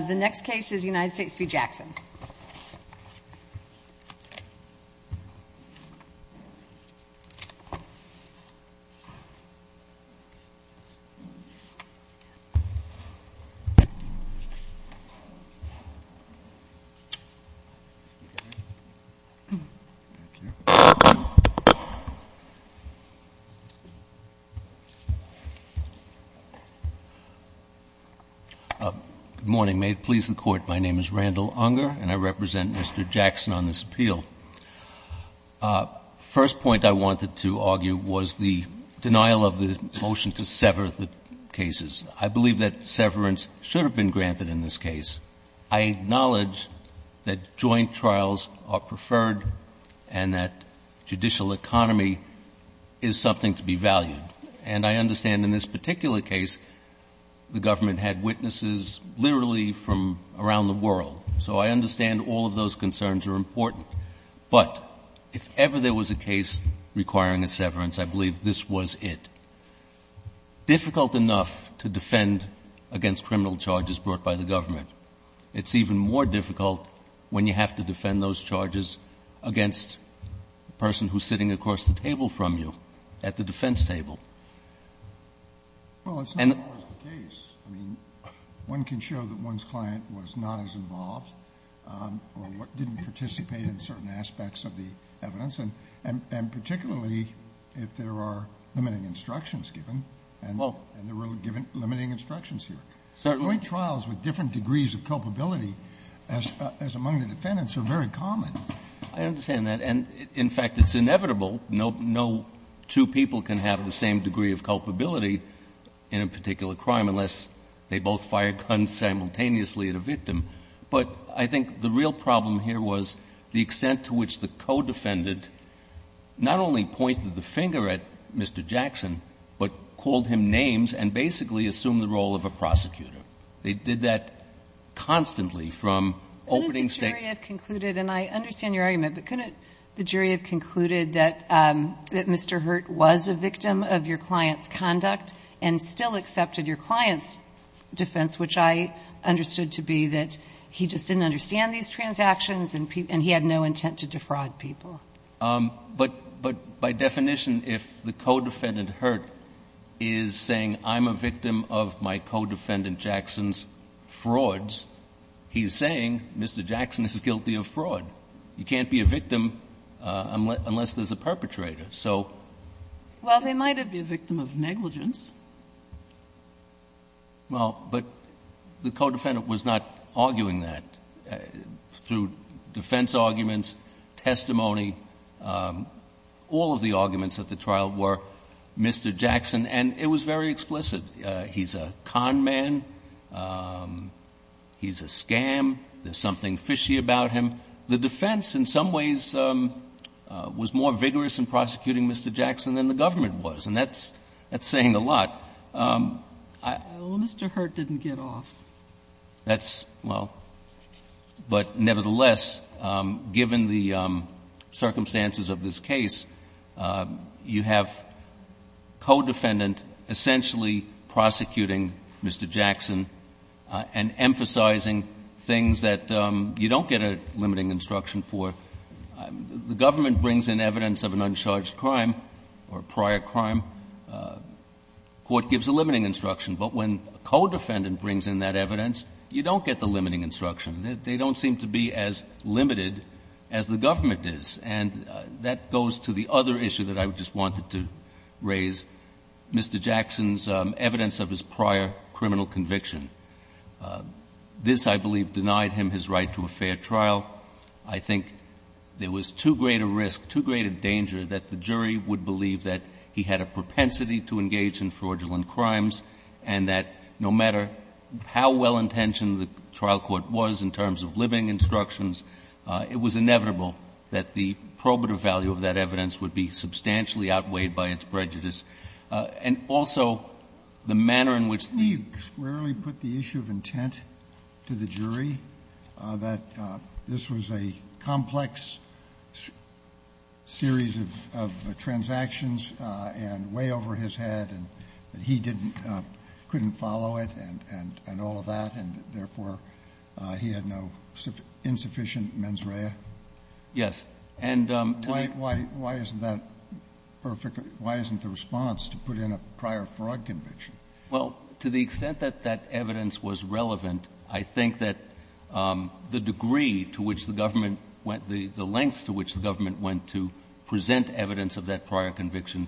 The next case is United States v. Jackson. The first point I wanted to argue was the denial of the motion to sever the cases. I believe that severance should have been granted in this case. I acknowledge that joint trials are preferred and that judicial economy is something to be valued. And I understand in this particular case the government had witnesses literally from around the world. So I understand all of those concerns are important. But if ever there was a case requiring a severance, I believe this was it. Difficult enough to defend against criminal charges brought by the government. It's even more difficult when you have to defend those charges against the person who's sitting across the table from you at the defense table. Well, it's not always the case. I mean, one can show that one's client was not as involved or didn't participate in certain aspects of the evidence. And particularly if there are limiting instructions given, and there were given limiting instructions here. Certainly. Joint trials with different degrees of culpability as among the defendants are very common. I understand that. And, in fact, it's inevitable. No two people can have the same degree of culpability in a particular crime unless they both fired guns simultaneously at a victim. But I think the real problem here was the extent to which the co-defendant not only pointed the finger at Mr. Jackson, but called him names and basically assumed the role of a prosecutor. They did that constantly from opening statements. Couldn't the jury have concluded, and I understand your argument, but couldn't the jury have concluded that Mr. Hurt was a victim of your client's conduct and still accepted your client's defense, which I understood to be that he just didn't understand these transactions and he had no intent to defraud people? But by definition, if the co-defendant Hurt is saying, I'm a victim of my co-defendant Jackson's frauds, he's saying Mr. Jackson is guilty of fraud. You can't be a victim unless there's a perpetrator. So... Well, they might have been a victim of negligence. Well, but the co-defendant was not arguing that through defense arguments, testimony. All of the arguments at the trial were Mr. Jackson, and it was very explicit. He's a con man. He's a scam. There's something fishy about him. And the defense, in some ways, was more vigorous in prosecuting Mr. Jackson than the government was, and that's saying a lot. Well, Mr. Hurt didn't get off. That's... well, but nevertheless, given the circumstances of this case, you have co-defendant essentially prosecuting Mr. Jackson and emphasizing things that you don't get a limiting instruction for. The government brings in evidence of an uncharged crime or prior crime. Court gives a limiting instruction, but when a co-defendant brings in that evidence, you don't get the limiting instruction. They don't seem to be as limited as the government is, and that goes to the other issue that I just wanted to raise, Mr. Jackson's evidence of his prior criminal conviction. This I believe denied him his right to a fair trial. I think there was too great a risk, too great a danger that the jury would believe that he had a propensity to engage in fraudulent crimes, and that no matter how well-intentioned the trial court was in terms of limiting instructions, it was inevitable that the probative value of that evidence would be substantially outweighed by its prejudice. And also, the manner in which the jury's... Scalia, you squarely put the issue of intent to the jury, that this was a complex series of transactions and way over his head, and that he didn't — couldn't follow it and all of that, and therefore he had no insufficient mens rea. Yes. And to the... Why isn't that perfect? Why isn't the response to put in a prior fraud conviction? Well, to the extent that that evidence was relevant, I think that the degree to which the government went — the lengths to which the government went to present evidence of that prior conviction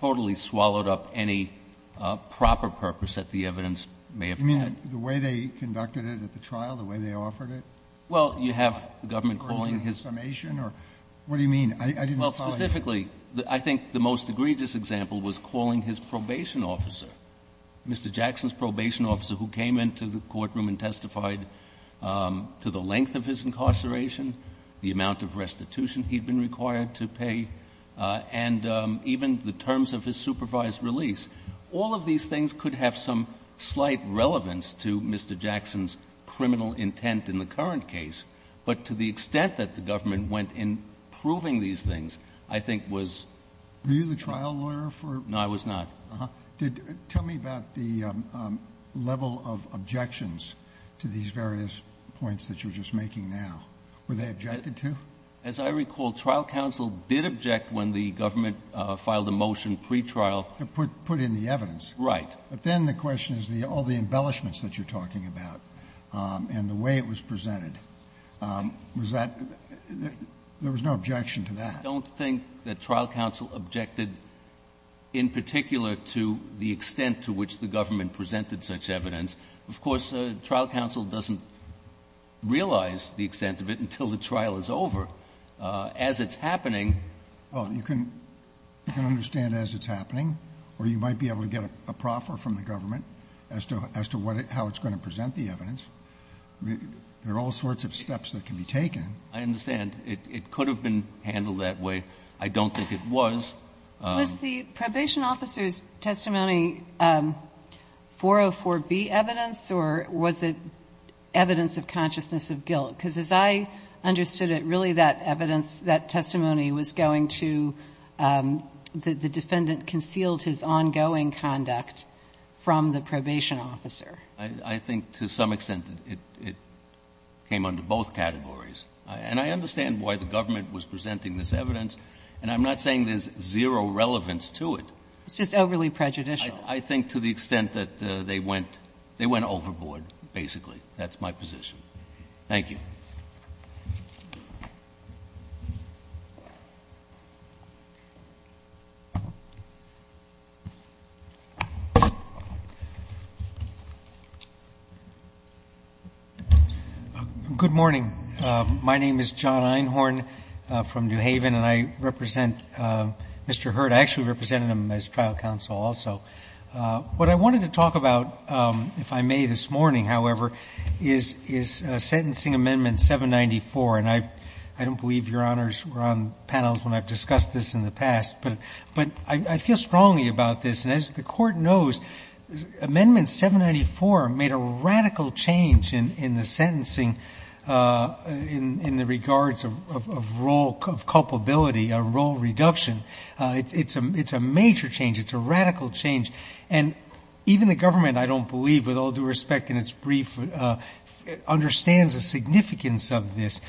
totally swallowed up any proper purpose that the evidence may have had. You mean the way they conducted it at the trial, the way they offered it? Well, you have the government calling his... Summation or — what do you mean? Well, specifically, I think the most egregious example was calling his probation officer, Mr. Jackson's probation officer, who came into the courtroom and testified to the length of his incarceration, the amount of restitution he'd been required to pay, and even the terms of his supervised release. All of these things could have some slight relevance to Mr. Jackson's criminal intent in the current case, but to the extent that the government went in proving these things, I think was... Were you the trial lawyer for... No, I was not. Uh-huh. Did — tell me about the level of objections to these various points that you're just making now. Were they objected to? As I recall, trial counsel did object when the government filed a motion pretrial... To put in the evidence. Right. But then the question is the — all the embellishments that you're talking about and the way it was presented, was that — there was no objection to that. I don't think that trial counsel objected in particular to the extent to which the government presented such evidence. Of course, trial counsel doesn't realize the extent of it until the trial is over. As it's happening... Well, you can understand as it's happening, or you might be able to get a proffer from the government as to — as to what — how it's going to present the evidence. There are all sorts of steps that can be taken. I understand. It could have been handled that way. I don't think it was. Was the probation officer's testimony 404B evidence, or was it evidence of consciousness of guilt? Because as I understood it, really that evidence — that testimony was going to — the defendant concealed his ongoing conduct. From the probation officer. I think to some extent it came under both categories. And I understand why the government was presenting this evidence. And I'm not saying there's zero relevance to it. It's just overly prejudicial. I think to the extent that they went — they went overboard, basically. That's my position. Thank you. Good morning. My name is John Einhorn from New Haven, and I represent Mr. Hurd. I actually represented him as trial counsel also. What I wanted to talk about, if I may, this morning, however, is — is Sentencing Amendment 794. And I don't believe Your Honors were on panels when I've discussed this in the past, but I feel strongly about this. And as the Court knows, Amendment 794 made a radical change in the sentencing in the regards of role — of culpability, a role reduction. It's a — it's a major change. It's a radical change. And even the government, I don't believe, with all due respect, in its brief, understands the significance of this.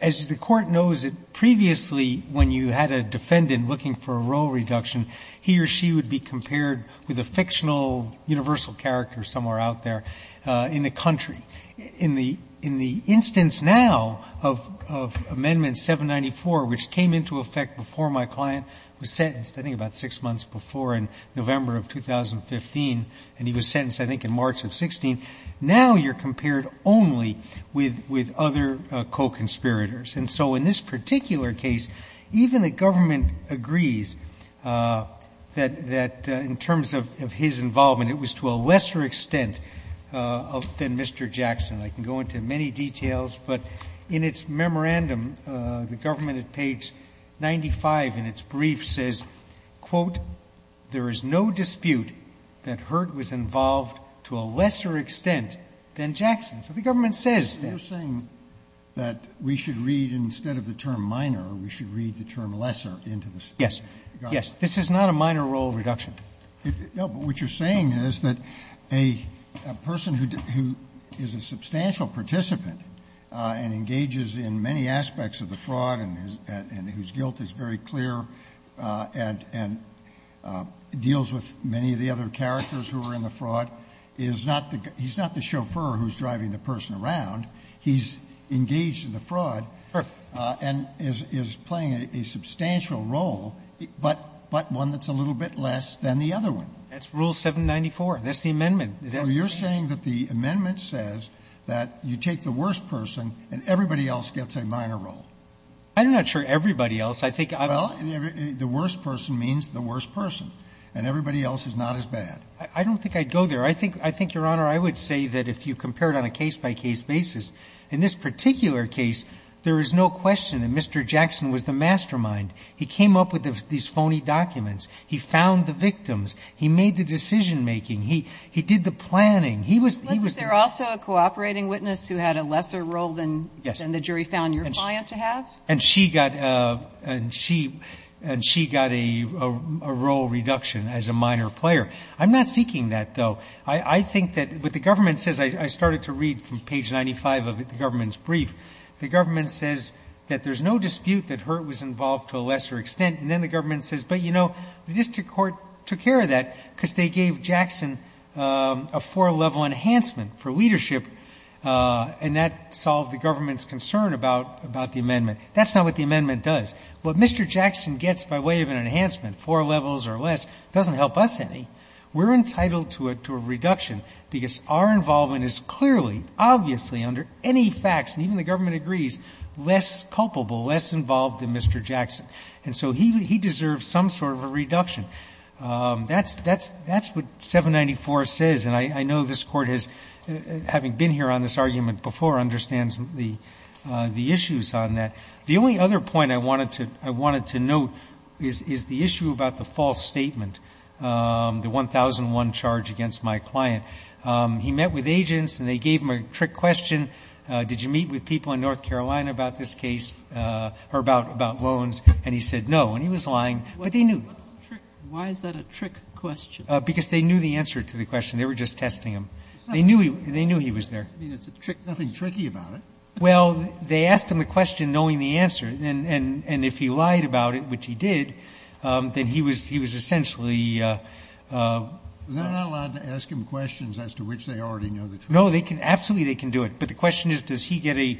As the Court knows, previously when you had a defendant looking for a role reduction, he or she would be compared with a fictional universal character somewhere out there in the country. In the — in the instance now of — of Amendment 794, which came into effect before my client was sentenced, I think about six months before, in November of 2015, and he was sentenced, I think, in March of 16, now you're compared only with — with other co-conspirators. And so in this particular case, even the government agrees that — that in terms of — of his involvement, it was to a lesser extent of — than Mr. Jackson. I can go into many details, but in its memorandum, the government at page 95 in its brief says, quote, there is no dispute that Hurt was involved to a lesser extent than Jackson. So the government says that. Roberts, you're saying that we should read, instead of the term minor, we should read the term lesser into the statement. Yes. Yes. This is not a minor role reduction. No, but what you're saying is that a person who — who is a substantial participant and engages in many aspects of the fraud and whose guilt is very clear and — and deals with many of the other characters who are in the fraud is not the — he's not the chauffeur who's driving the person around. He's engaged in the fraud and is — is playing a substantial role, but — but one that's a little bit less than the other one. That's Rule 794. That's the amendment. So you're saying that the amendment says that you take the worst person and everybody else gets a minor role. I'm not sure everybody else. I think I'm — Well, the worst person means the worst person, and everybody else is not as bad. I don't think I'd go there. I think — I think, Your Honor, I would say that if you compared on a case-by-case basis, in this particular case, there is no question that Mr. Jackson was the mastermind. He came up with these phony documents. He found the victims. He made the decision-making. He — he did the planning. He was — he was the mastermind. Was there also a cooperating witness who had a lesser role than — Yes. — than the jury found your client to have? And she got — and she — and she got a — a role reduction as a minor player. I'm not seeking that, though. I — I think that what the government says — I started to read from page 95 of the government's brief. The government says that there's no dispute that Hurt was involved to a lesser extent, and then the government says, but, you know, the district court took care of that because they gave Jackson a four-level enhancement for leadership, and that solved the government's concern about — about the amendment. That's not what the amendment does. What Mr. Jackson gets by way of an enhancement, four levels or less, doesn't help us any. We're entitled to a — to a reduction because our involvement is clearly, obviously, under any facts, and even the government agrees, less culpable, less involved than Mr. Jackson. And so he — he deserves some sort of a reduction. That's — that's — that's what 794 says. And I — I know this Court has — having been here on this argument before, understands the — the issues on that. The only other point I wanted to — I wanted to note is — is the issue about the 1001 charge against my client. He met with agents, and they gave him a trick question, did you meet with people in North Carolina about this case, or about — about loans, and he said no. And he was lying, but they knew. Sotomayor, why is that a trick question? Because they knew the answer to the question. They were just testing him. They knew he — they knew he was there. I mean, it's a trick — nothing tricky about it. Well, they asked him the question knowing the answer, and — and if he lied about it, which he did, then he was — he was essentially — They're not allowed to ask him questions as to which they already know the truth. No, they can — absolutely, they can do it. But the question is, does he get a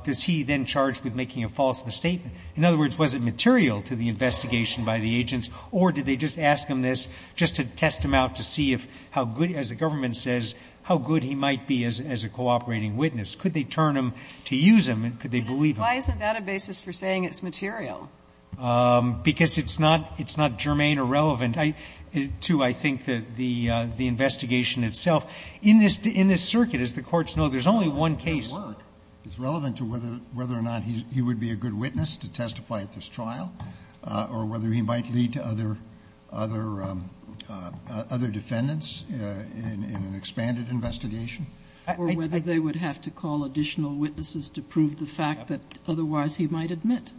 — does he then charge with making a false statement? In other words, was it material to the investigation by the agents, or did they just ask him this just to test him out to see if — how good — as the government says, how good he might be as — as a cooperating witness? Could they turn him to use him, and could they believe him? Why isn't that a basis for saying it's material? Because it's not — it's not germane or relevant to, I think, the — the investigation itself. In this — in this circuit, as the courts know, there's only one case. It's relevant to whether — whether or not he would be a good witness to testify at this trial, or whether he might lead to other — other defendants in an expanded investigation. I — I — Or whether they would have to call additional witnesses to prove the fact that otherwise he might admit.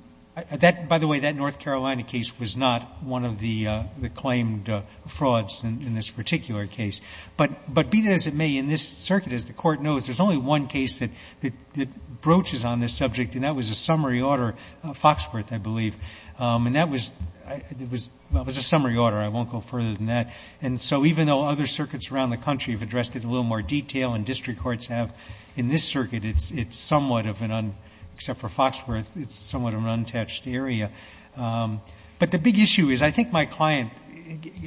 That — by the way, that North Carolina case was not one of the — the claimed frauds in this particular case. But — but be that as it may, in this circuit, as the Court knows, there's only one case that — that broaches on this subject, and that was a summary order, Foxworth, I believe. And that was — it was — well, it was a summary order. I won't go further than that. And so even though other circuits around the country have addressed it in a little more detail, and district courts have, in this circuit, it's — it's somewhat of an un — except for Foxworth, it's somewhat of an untouched area. But the big issue is, I think my client,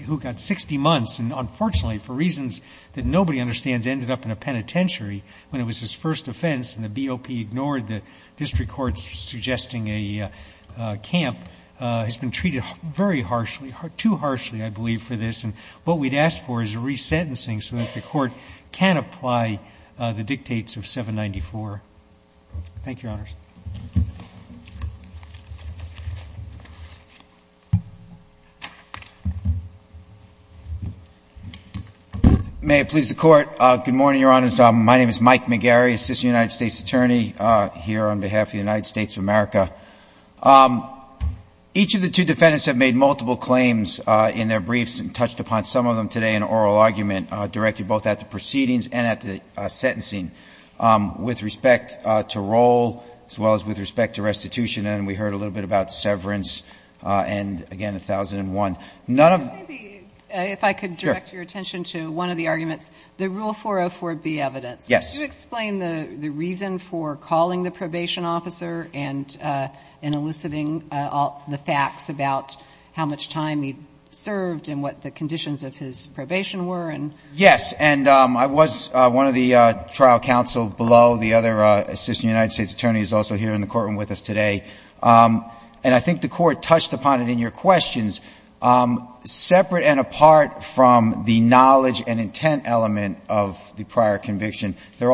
who got 60 months, and unfortunately for reasons that nobody understands, ended up in a penitentiary when it was his first offense, and the BOP ignored the district courts suggesting a camp, has been treated very harshly — too harshly, I believe, for this. And what we'd ask for is a re-sentencing so that the Court can apply the dictates of 794. Thank you, Your Honors. May it please the Court. Good morning, Your Honors. My name is Mike McGarry, assistant United States attorney here on behalf of the United States of America. Each of the two defendants have made multiple claims in their briefs and touched upon some of them today in an oral argument, directed both at the proceedings and at the sentencing. With respect to roll, as well as with respect to restitution, and we heard a little bit about severance, and again, 1001, none of — If I could direct your attention to one of the arguments, the Rule 404B evidence. Yes. Could you explain the reason for calling the probation officer and eliciting the facts about how much time he served and what the conditions of his probation were and — Yes. And I was one of the trial counsel below. The other assistant United States attorney is also here in the courtroom with us today. And I think the Court touched upon it in your questions. Separate and apart from the knowledge and intent element of the prior conviction, there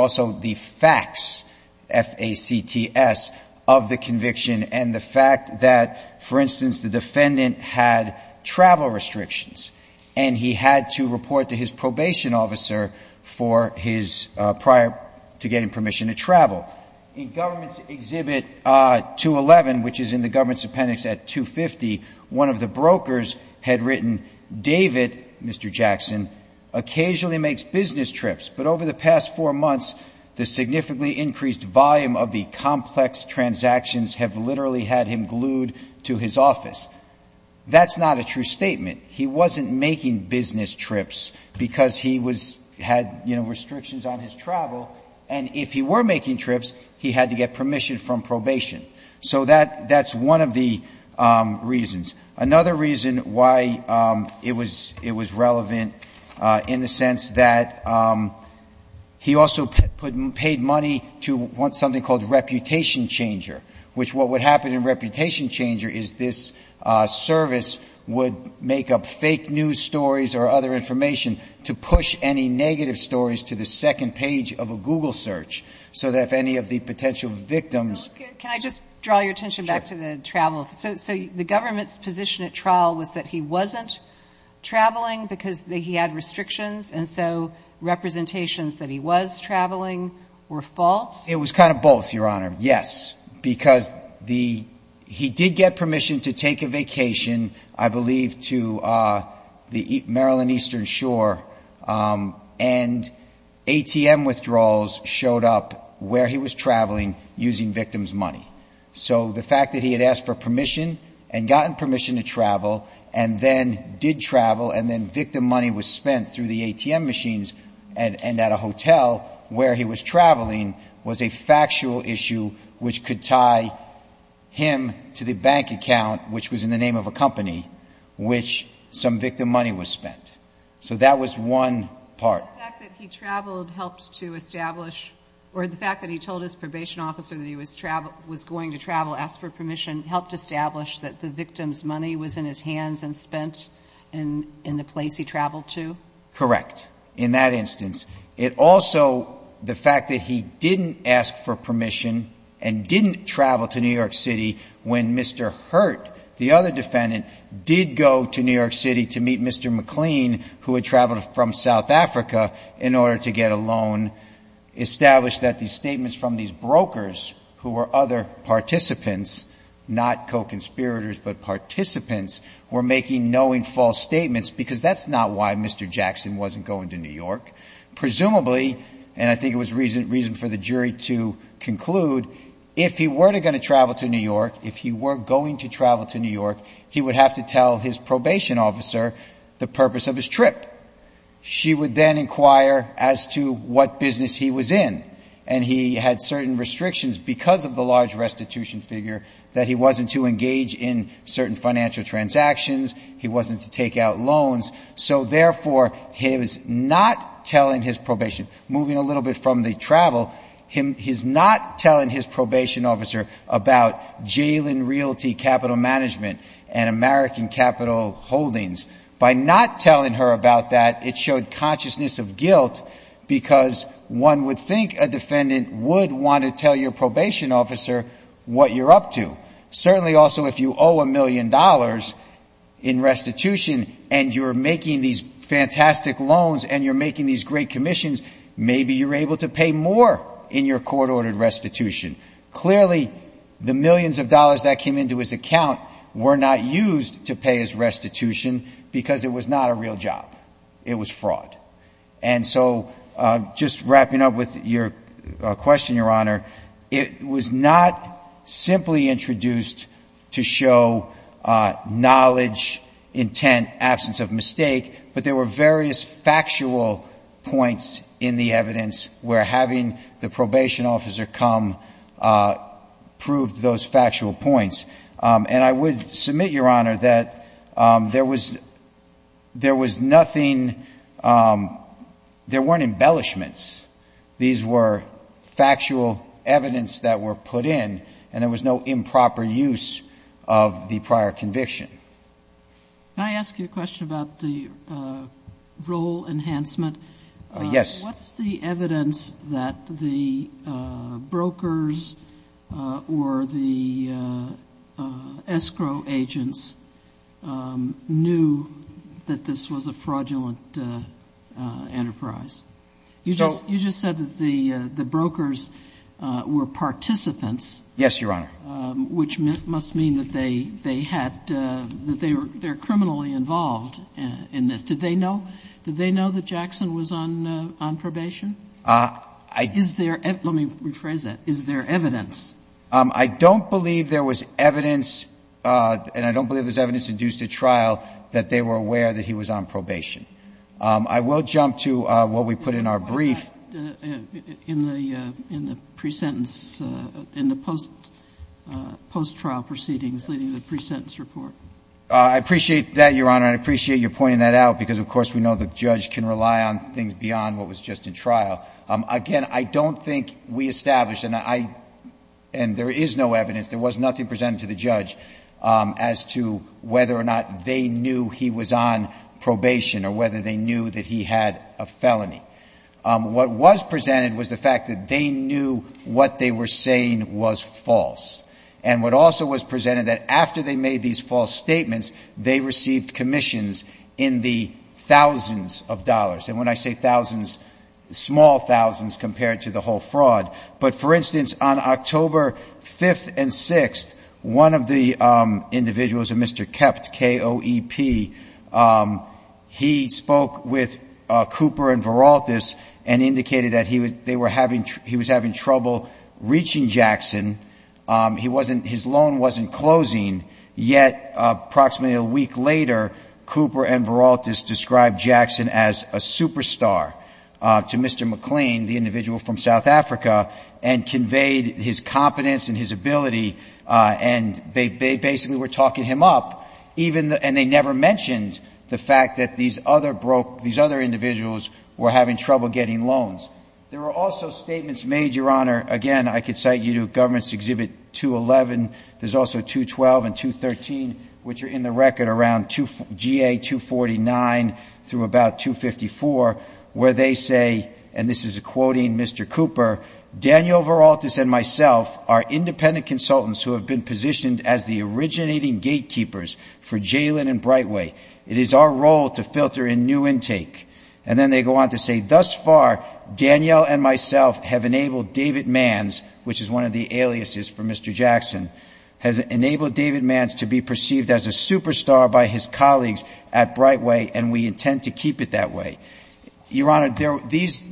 the defendant had travel restrictions, and he had to report to his probation officer for his — prior to getting permission to travel. In Government's Exhibit 211, which is in the Government's Appendix at 250, one of the brokers had written, David, Mr. Jackson, occasionally makes business trips, but over the past four months the significantly increased volume of the complex transactions have literally had him glued to his office. That's not a true statement. He wasn't making business trips because he was — had, you know, restrictions on his travel. And if he were making trips, he had to get permission from probation. So that's one of the reasons. Another reason why it was relevant in the sense that he also paid money to something called Reputation Changer, which what would happen in Reputation Changer is this service would make up fake news stories or other information to push any negative stories to the second page of a Google search, so that if any of the potential victims — Can I just draw your attention back to the travel? Sure. So the Government's position at trial was that he wasn't traveling because he had restrictions, and so representations that he was traveling were false? It was kind of both, Your Honor, yes, because the — he did get permission to take a vacation, I believe, to the Maryland Eastern Shore, and ATM withdrawals showed up where he was traveling using victims' money. So the fact that he had asked for permission and gotten permission to travel and then did travel and then victim money was spent through the ATM machines and at a hotel where he was was a factual issue which could tie him to the bank account, which was in the name of a company, which some victim money was spent. So that was one part. So the fact that he traveled helped to establish — or the fact that he told his probation officer that he was going to travel, asked for permission, helped establish that the victim's money was in his hands and spent in the place he traveled to? Correct, in that instance. It also — the fact that he didn't ask for permission and didn't travel to New York City when Mr. Hurt, the other defendant, did go to New York City to meet Mr. McLean, who had traveled from South Africa in order to get a loan, established that these statements from these brokers, who were other participants, not co-conspirators, but participants, were making knowing false statements, because that's not why Mr. Jackson wasn't going to New York. Presumably — and I think it was reason for the jury to conclude — if he were going to travel to New York, if he were going to travel to New York, he would have to tell his probation officer the purpose of his trip. She would then inquire as to what business he was in. And he had certain restrictions because of the large restitution figure that he wasn't to engage in certain financial transactions. He wasn't to take out loans. So, therefore, his not telling his probation — moving a little bit from the travel — his not telling his probation officer about jail and realty capital management and American capital holdings, by not telling her about that, it showed consciousness of guilt, because one would think a defendant would want to tell your probation officer what you're up to. Certainly, also, if you owe a million dollars in restitution and you're making these fantastic loans and you're making these great commissions, maybe you're able to pay more in your court-ordered restitution. Clearly, the millions of dollars that came into his account were not used to pay his restitution because it was not a real job. It was fraud. And so, just wrapping up with your question, Your Honor, it was not simply introduced to show knowledge, intent, absence of mistake, but there were various factual points in the evidence where having the probation officer come proved those factual points. And I would submit, Your Honor, that there was nothing — there weren't embellishments. These were factual evidence that were put in, and there was no improper use of the prior conviction. Can I ask you a question about the rule enhancement? Yes. What's the evidence that the brokers or the escrow agents knew that this was a fraudulent enterprise? You just said that the brokers were participants — Yes, Your Honor. — which must mean that they had — that they're criminally involved in this. Did they know? Did they know that Jackson was on probation? Is there — let me rephrase that. Is there evidence? I don't believe there was evidence, and I don't believe there's evidence induced at trial that they were aware that he was on probation. I will jump to what we put in our brief. In the pre-sentence — in the post-trial proceedings leading to the pre-sentence report. I appreciate that, Your Honor. And I appreciate your pointing that out, because, of course, we know the judge can rely on things beyond what was just in trial. Again, I don't think we established — and I — and there is no evidence, there was nothing presented to the judge as to whether or not they knew he was on probation or whether they knew that he had a felony. What was presented was the fact that they knew what they were saying was false. And what also was presented, that after they made these false statements, they received commissions in the thousands of dollars. And when I say thousands, small thousands compared to the whole fraud. But for instance, on October 5th and 6th, one of the individuals, a Mr. Kept, K-O-E-P, he spoke with Cooper and Veraltis and indicated that he was — they were having — he was having trouble reaching Jackson. He wasn't — his loan wasn't closing, yet approximately a week later, Cooper and Veraltis described Jackson as a superstar to Mr. McLean, the individual from South Africa, and conveyed his competence and his ability, and they basically were talking him up, even the — and they never mentioned the fact that these other broke — these other individuals were having trouble getting loans. There were also statements made, Your Honor — again, I could cite you to Governments Exhibit 211, there's also 212 and 213, which are in the record around G.A. 249 through about 254, where they say, and this is quoting Mr. Cooper, Daniel Veraltis and myself are independent consultants who have been positioned as the originating gatekeepers for Jalen and Brightway. It is our role to filter in new intake. And then they go on to say, thus far, Daniel and myself have enabled David Manns, which is one of the aliases for Mr. Jackson, has enabled David Manns to be perceived as a superstar by his colleagues at Brightway, and we intend to keep it that way. Your Honor,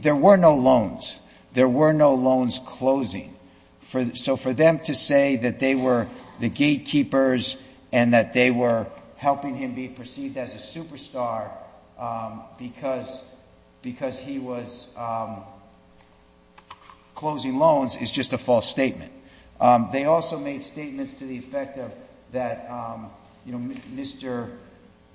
there were no loans. There were no loans closing. So for them to say that they were the gatekeepers and that they were helping him be perceived as a superstar because he was closing loans is just a false statement. They also made statements to the effect of that, you know,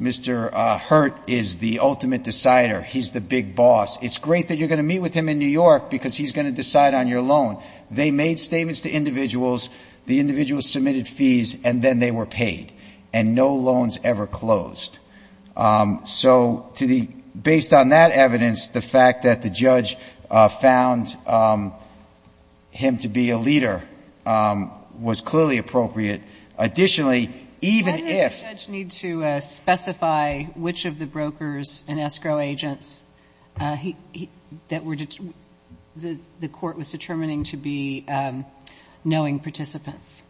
Mr. Hurt is the ultimate decider. He's the big boss. It's great that you're going to meet with him in New York because he's going to decide on your loan. They made statements to individuals. The individuals submitted fees, and then they were paid. And no loans ever closed. So based on that evidence, the fact that the judge found him to be a leader was clearly appropriate. Additionally, even if — Why did the judge need to specify which of the brokers and escrow agents that the court was determining to be knowing participants?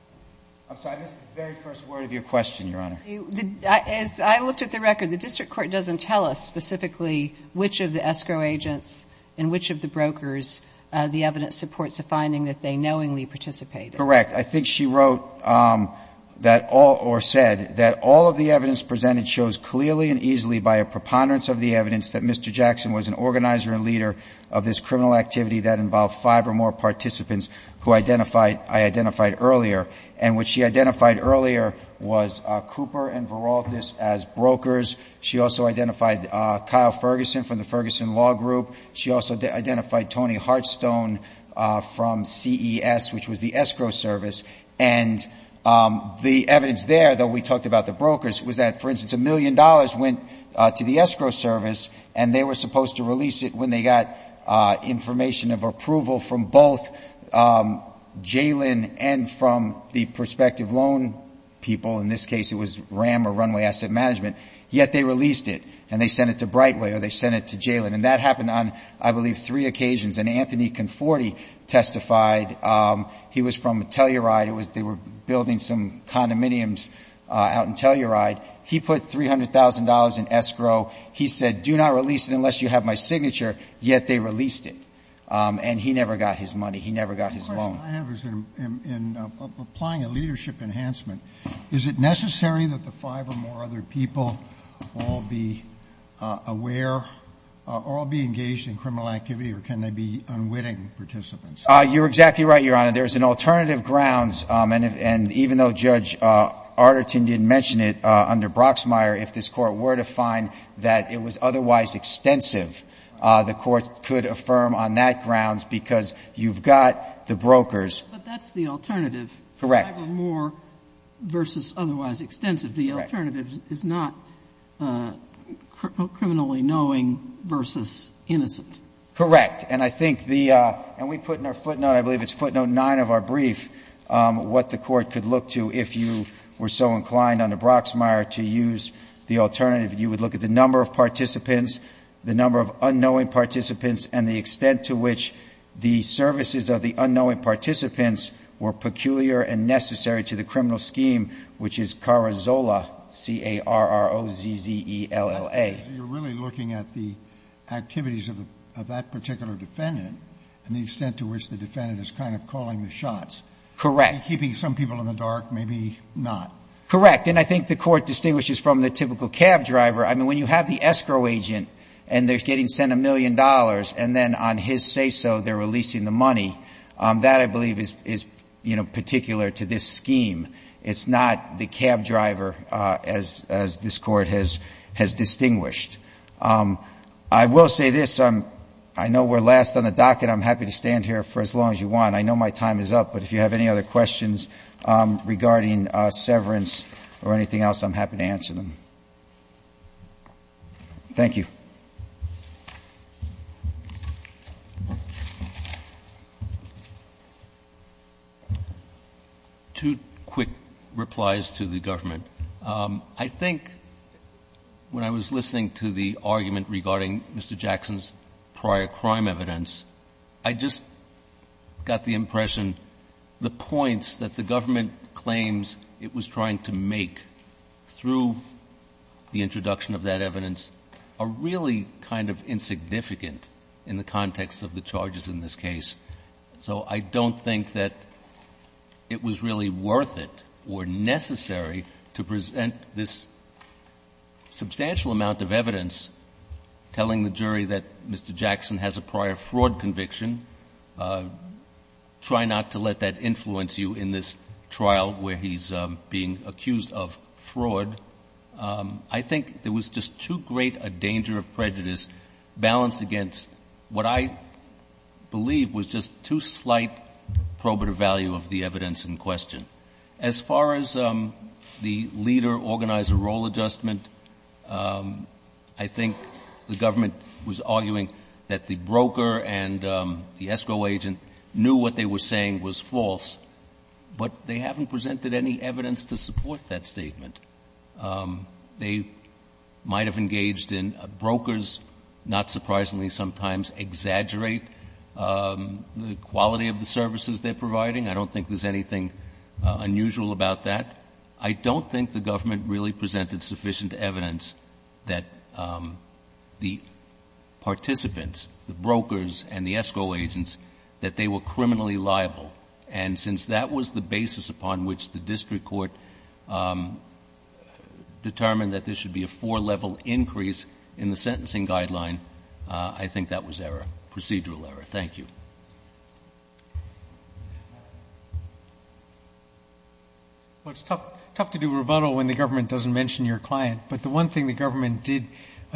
I'm sorry. I missed the very first word of your question, Your Honor. As I looked at the record, the district court doesn't tell us specifically which of the escrow agents and which of the brokers the evidence supports the finding that they knowingly participated. Correct. I think she wrote that all — or said that all of the evidence presented shows clearly and easily by a preponderance of the evidence that Mr. Jackson was an organizer and leader of this criminal activity that involved five or more participants who identified — I identified earlier. And what she identified earlier was Cooper and Veraltes as brokers. She also identified Kyle Ferguson from the Ferguson Law Group. She also identified Tony Hearthstone from CES, which was the escrow service. And the evidence there, though we talked about the brokers, was that, for instance, a million dollars went to the escrow service, and they were supposed to release it when they got information of approval from both JALIN and from the prospective loan people. In this case, it was RAM, or Runway Asset Management. Yet they released it, and they sent it to Brightway, or they sent it to JALIN. And that happened on, I believe, three occasions. And Anthony Conforti testified. He was from Telluride. It was — they were building some condominiums out in Telluride. He put $300,000 in escrow. He said, do not release it unless you have my signature. Yet they released it. And he never got his money. He never got his loan. The question I have is, in applying a leadership enhancement, is it necessary that the five or more other people all be aware, all be engaged in criminal activity, or can they be unwitting participants? You're exactly right, Your Honor. There's an alternative grounds, and even though Judge Arterton didn't mention it, under Broxmire, if this Court were to find that it was otherwise extensive, the Court could affirm on that grounds, because you've got the brokers. But that's the alternative. Correct. Five or more versus otherwise extensive. The alternative is not criminally knowing versus innocent. Correct. And I think the — and we put in our footnote, I believe it's footnote nine of our brief, what the Court could look to if you were so inclined under Broxmire to use the alternative. You would look at the number of participants, the number of unknowing participants, and the extent to which the services of the unknowing participants were peculiar and necessary to the criminal scheme, which is CAROZELLA, C-A-R-O-Z-E-L-L-A. So you're really looking at the activities of that particular defendant and the extent to which the defendant is kind of calling the shots. Correct. Keeping some people in the dark, maybe not. Correct. And I think the Court distinguishes from the typical cab driver. I mean, when you have the escrow agent and they're getting sent a million dollars, and then on his say-so, they're releasing the money, that, I believe, is particular to this scheme. It's not the cab driver, as this Court has distinguished. I will say this. I know we're last on the docket. I'm happy to stand here for as long as you want. I know my time is up, but if you have any other questions regarding severance or anything else, I'm happy to answer them. Thank you. Two quick replies to the government. I think when I was listening to the argument regarding Mr. Jackson's prior crime evidence, I just got the impression the points that the government claims it was trying to make through the introduction of that evidence are really kind of insignificant in the context of the charges in this case. So I don't think that it was really worth it or necessary to present this substantial amount of evidence telling the jury that Mr. Jackson has a prior fraud conviction. Try not to let that influence you in this trial where he's being accused of fraud. I think there was just too great a danger of prejudice balanced against what I believe was just too slight probative value of the evidence in question. As far as the leader-organizer role adjustment, I think the government was arguing that the broker and the ESCO agent knew what they were saying was false, but they haven't presented any evidence to support that statement. They might have engaged in brokers, not surprisingly, sometimes exaggerate the quality of the services they're providing. I don't think there's anything unusual about that. I don't think the government really presented sufficient evidence that the participants, the brokers and the ESCO agents, that they were criminally liable. And since that was the basis upon which the district court determined that there should be a four-level increase in the sentencing guideline, I think that was error, procedural error. Thank you. Well, it's tough to do rebuttal when the government doesn't mention your client. But the one thing the government did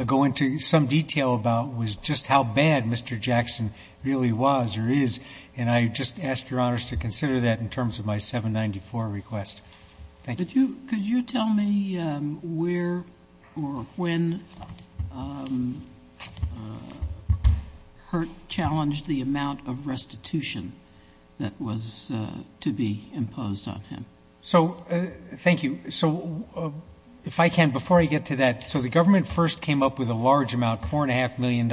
go into some detail about was just how bad Mr. Jackson really was or is. And I just ask Your Honors to consider that in terms of my 794 request. Thank you. Could you tell me where or when Hurt challenged the amount of restitution that was to be imposed on him? So, thank you, so if I can, before I get to that, so the government first came up with a large amount, $4.5 million,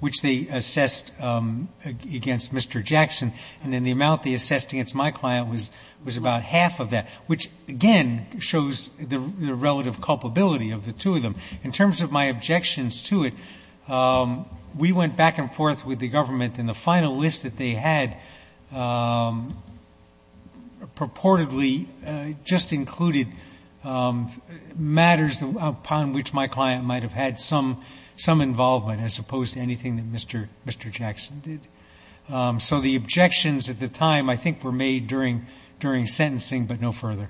which they assessed against Mr. Jackson, and then the amount they assessed against my client was about half of that, which, again, shows the relative culpability of the two of them. In terms of my objections to it, we went back and forth with the government, and the final list that they had purportedly just included matters upon which my client might have had some involvement as opposed to anything that Mr. Jackson did. So, the objections at the time, I think, were made during sentencing, but no further.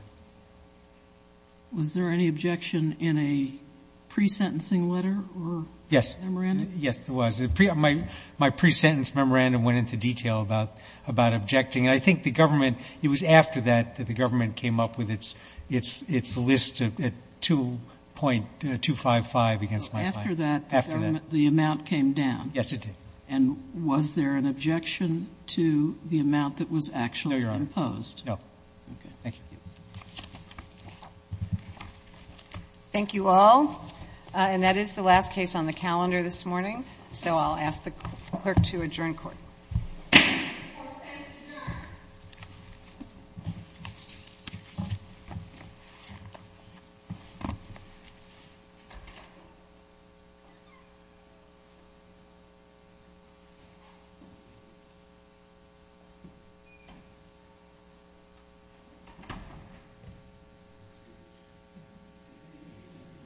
Was there any objection in a pre-sentencing letter or memorandum? Yes. Yes, there was. My pre-sentence memorandum went into detail about objecting, and I think the government, it was after that that the government came up with its list at 2.255 against my client. After that, the government, the amount came down? Yes, it did. And was there an objection to the amount that was actually imposed? No, Your Honor. No. Okay. Thank you. Thank you all. And that is the last case on the calendar this morning, so I'll ask the Clerk to adjourn court. Court is adjourned.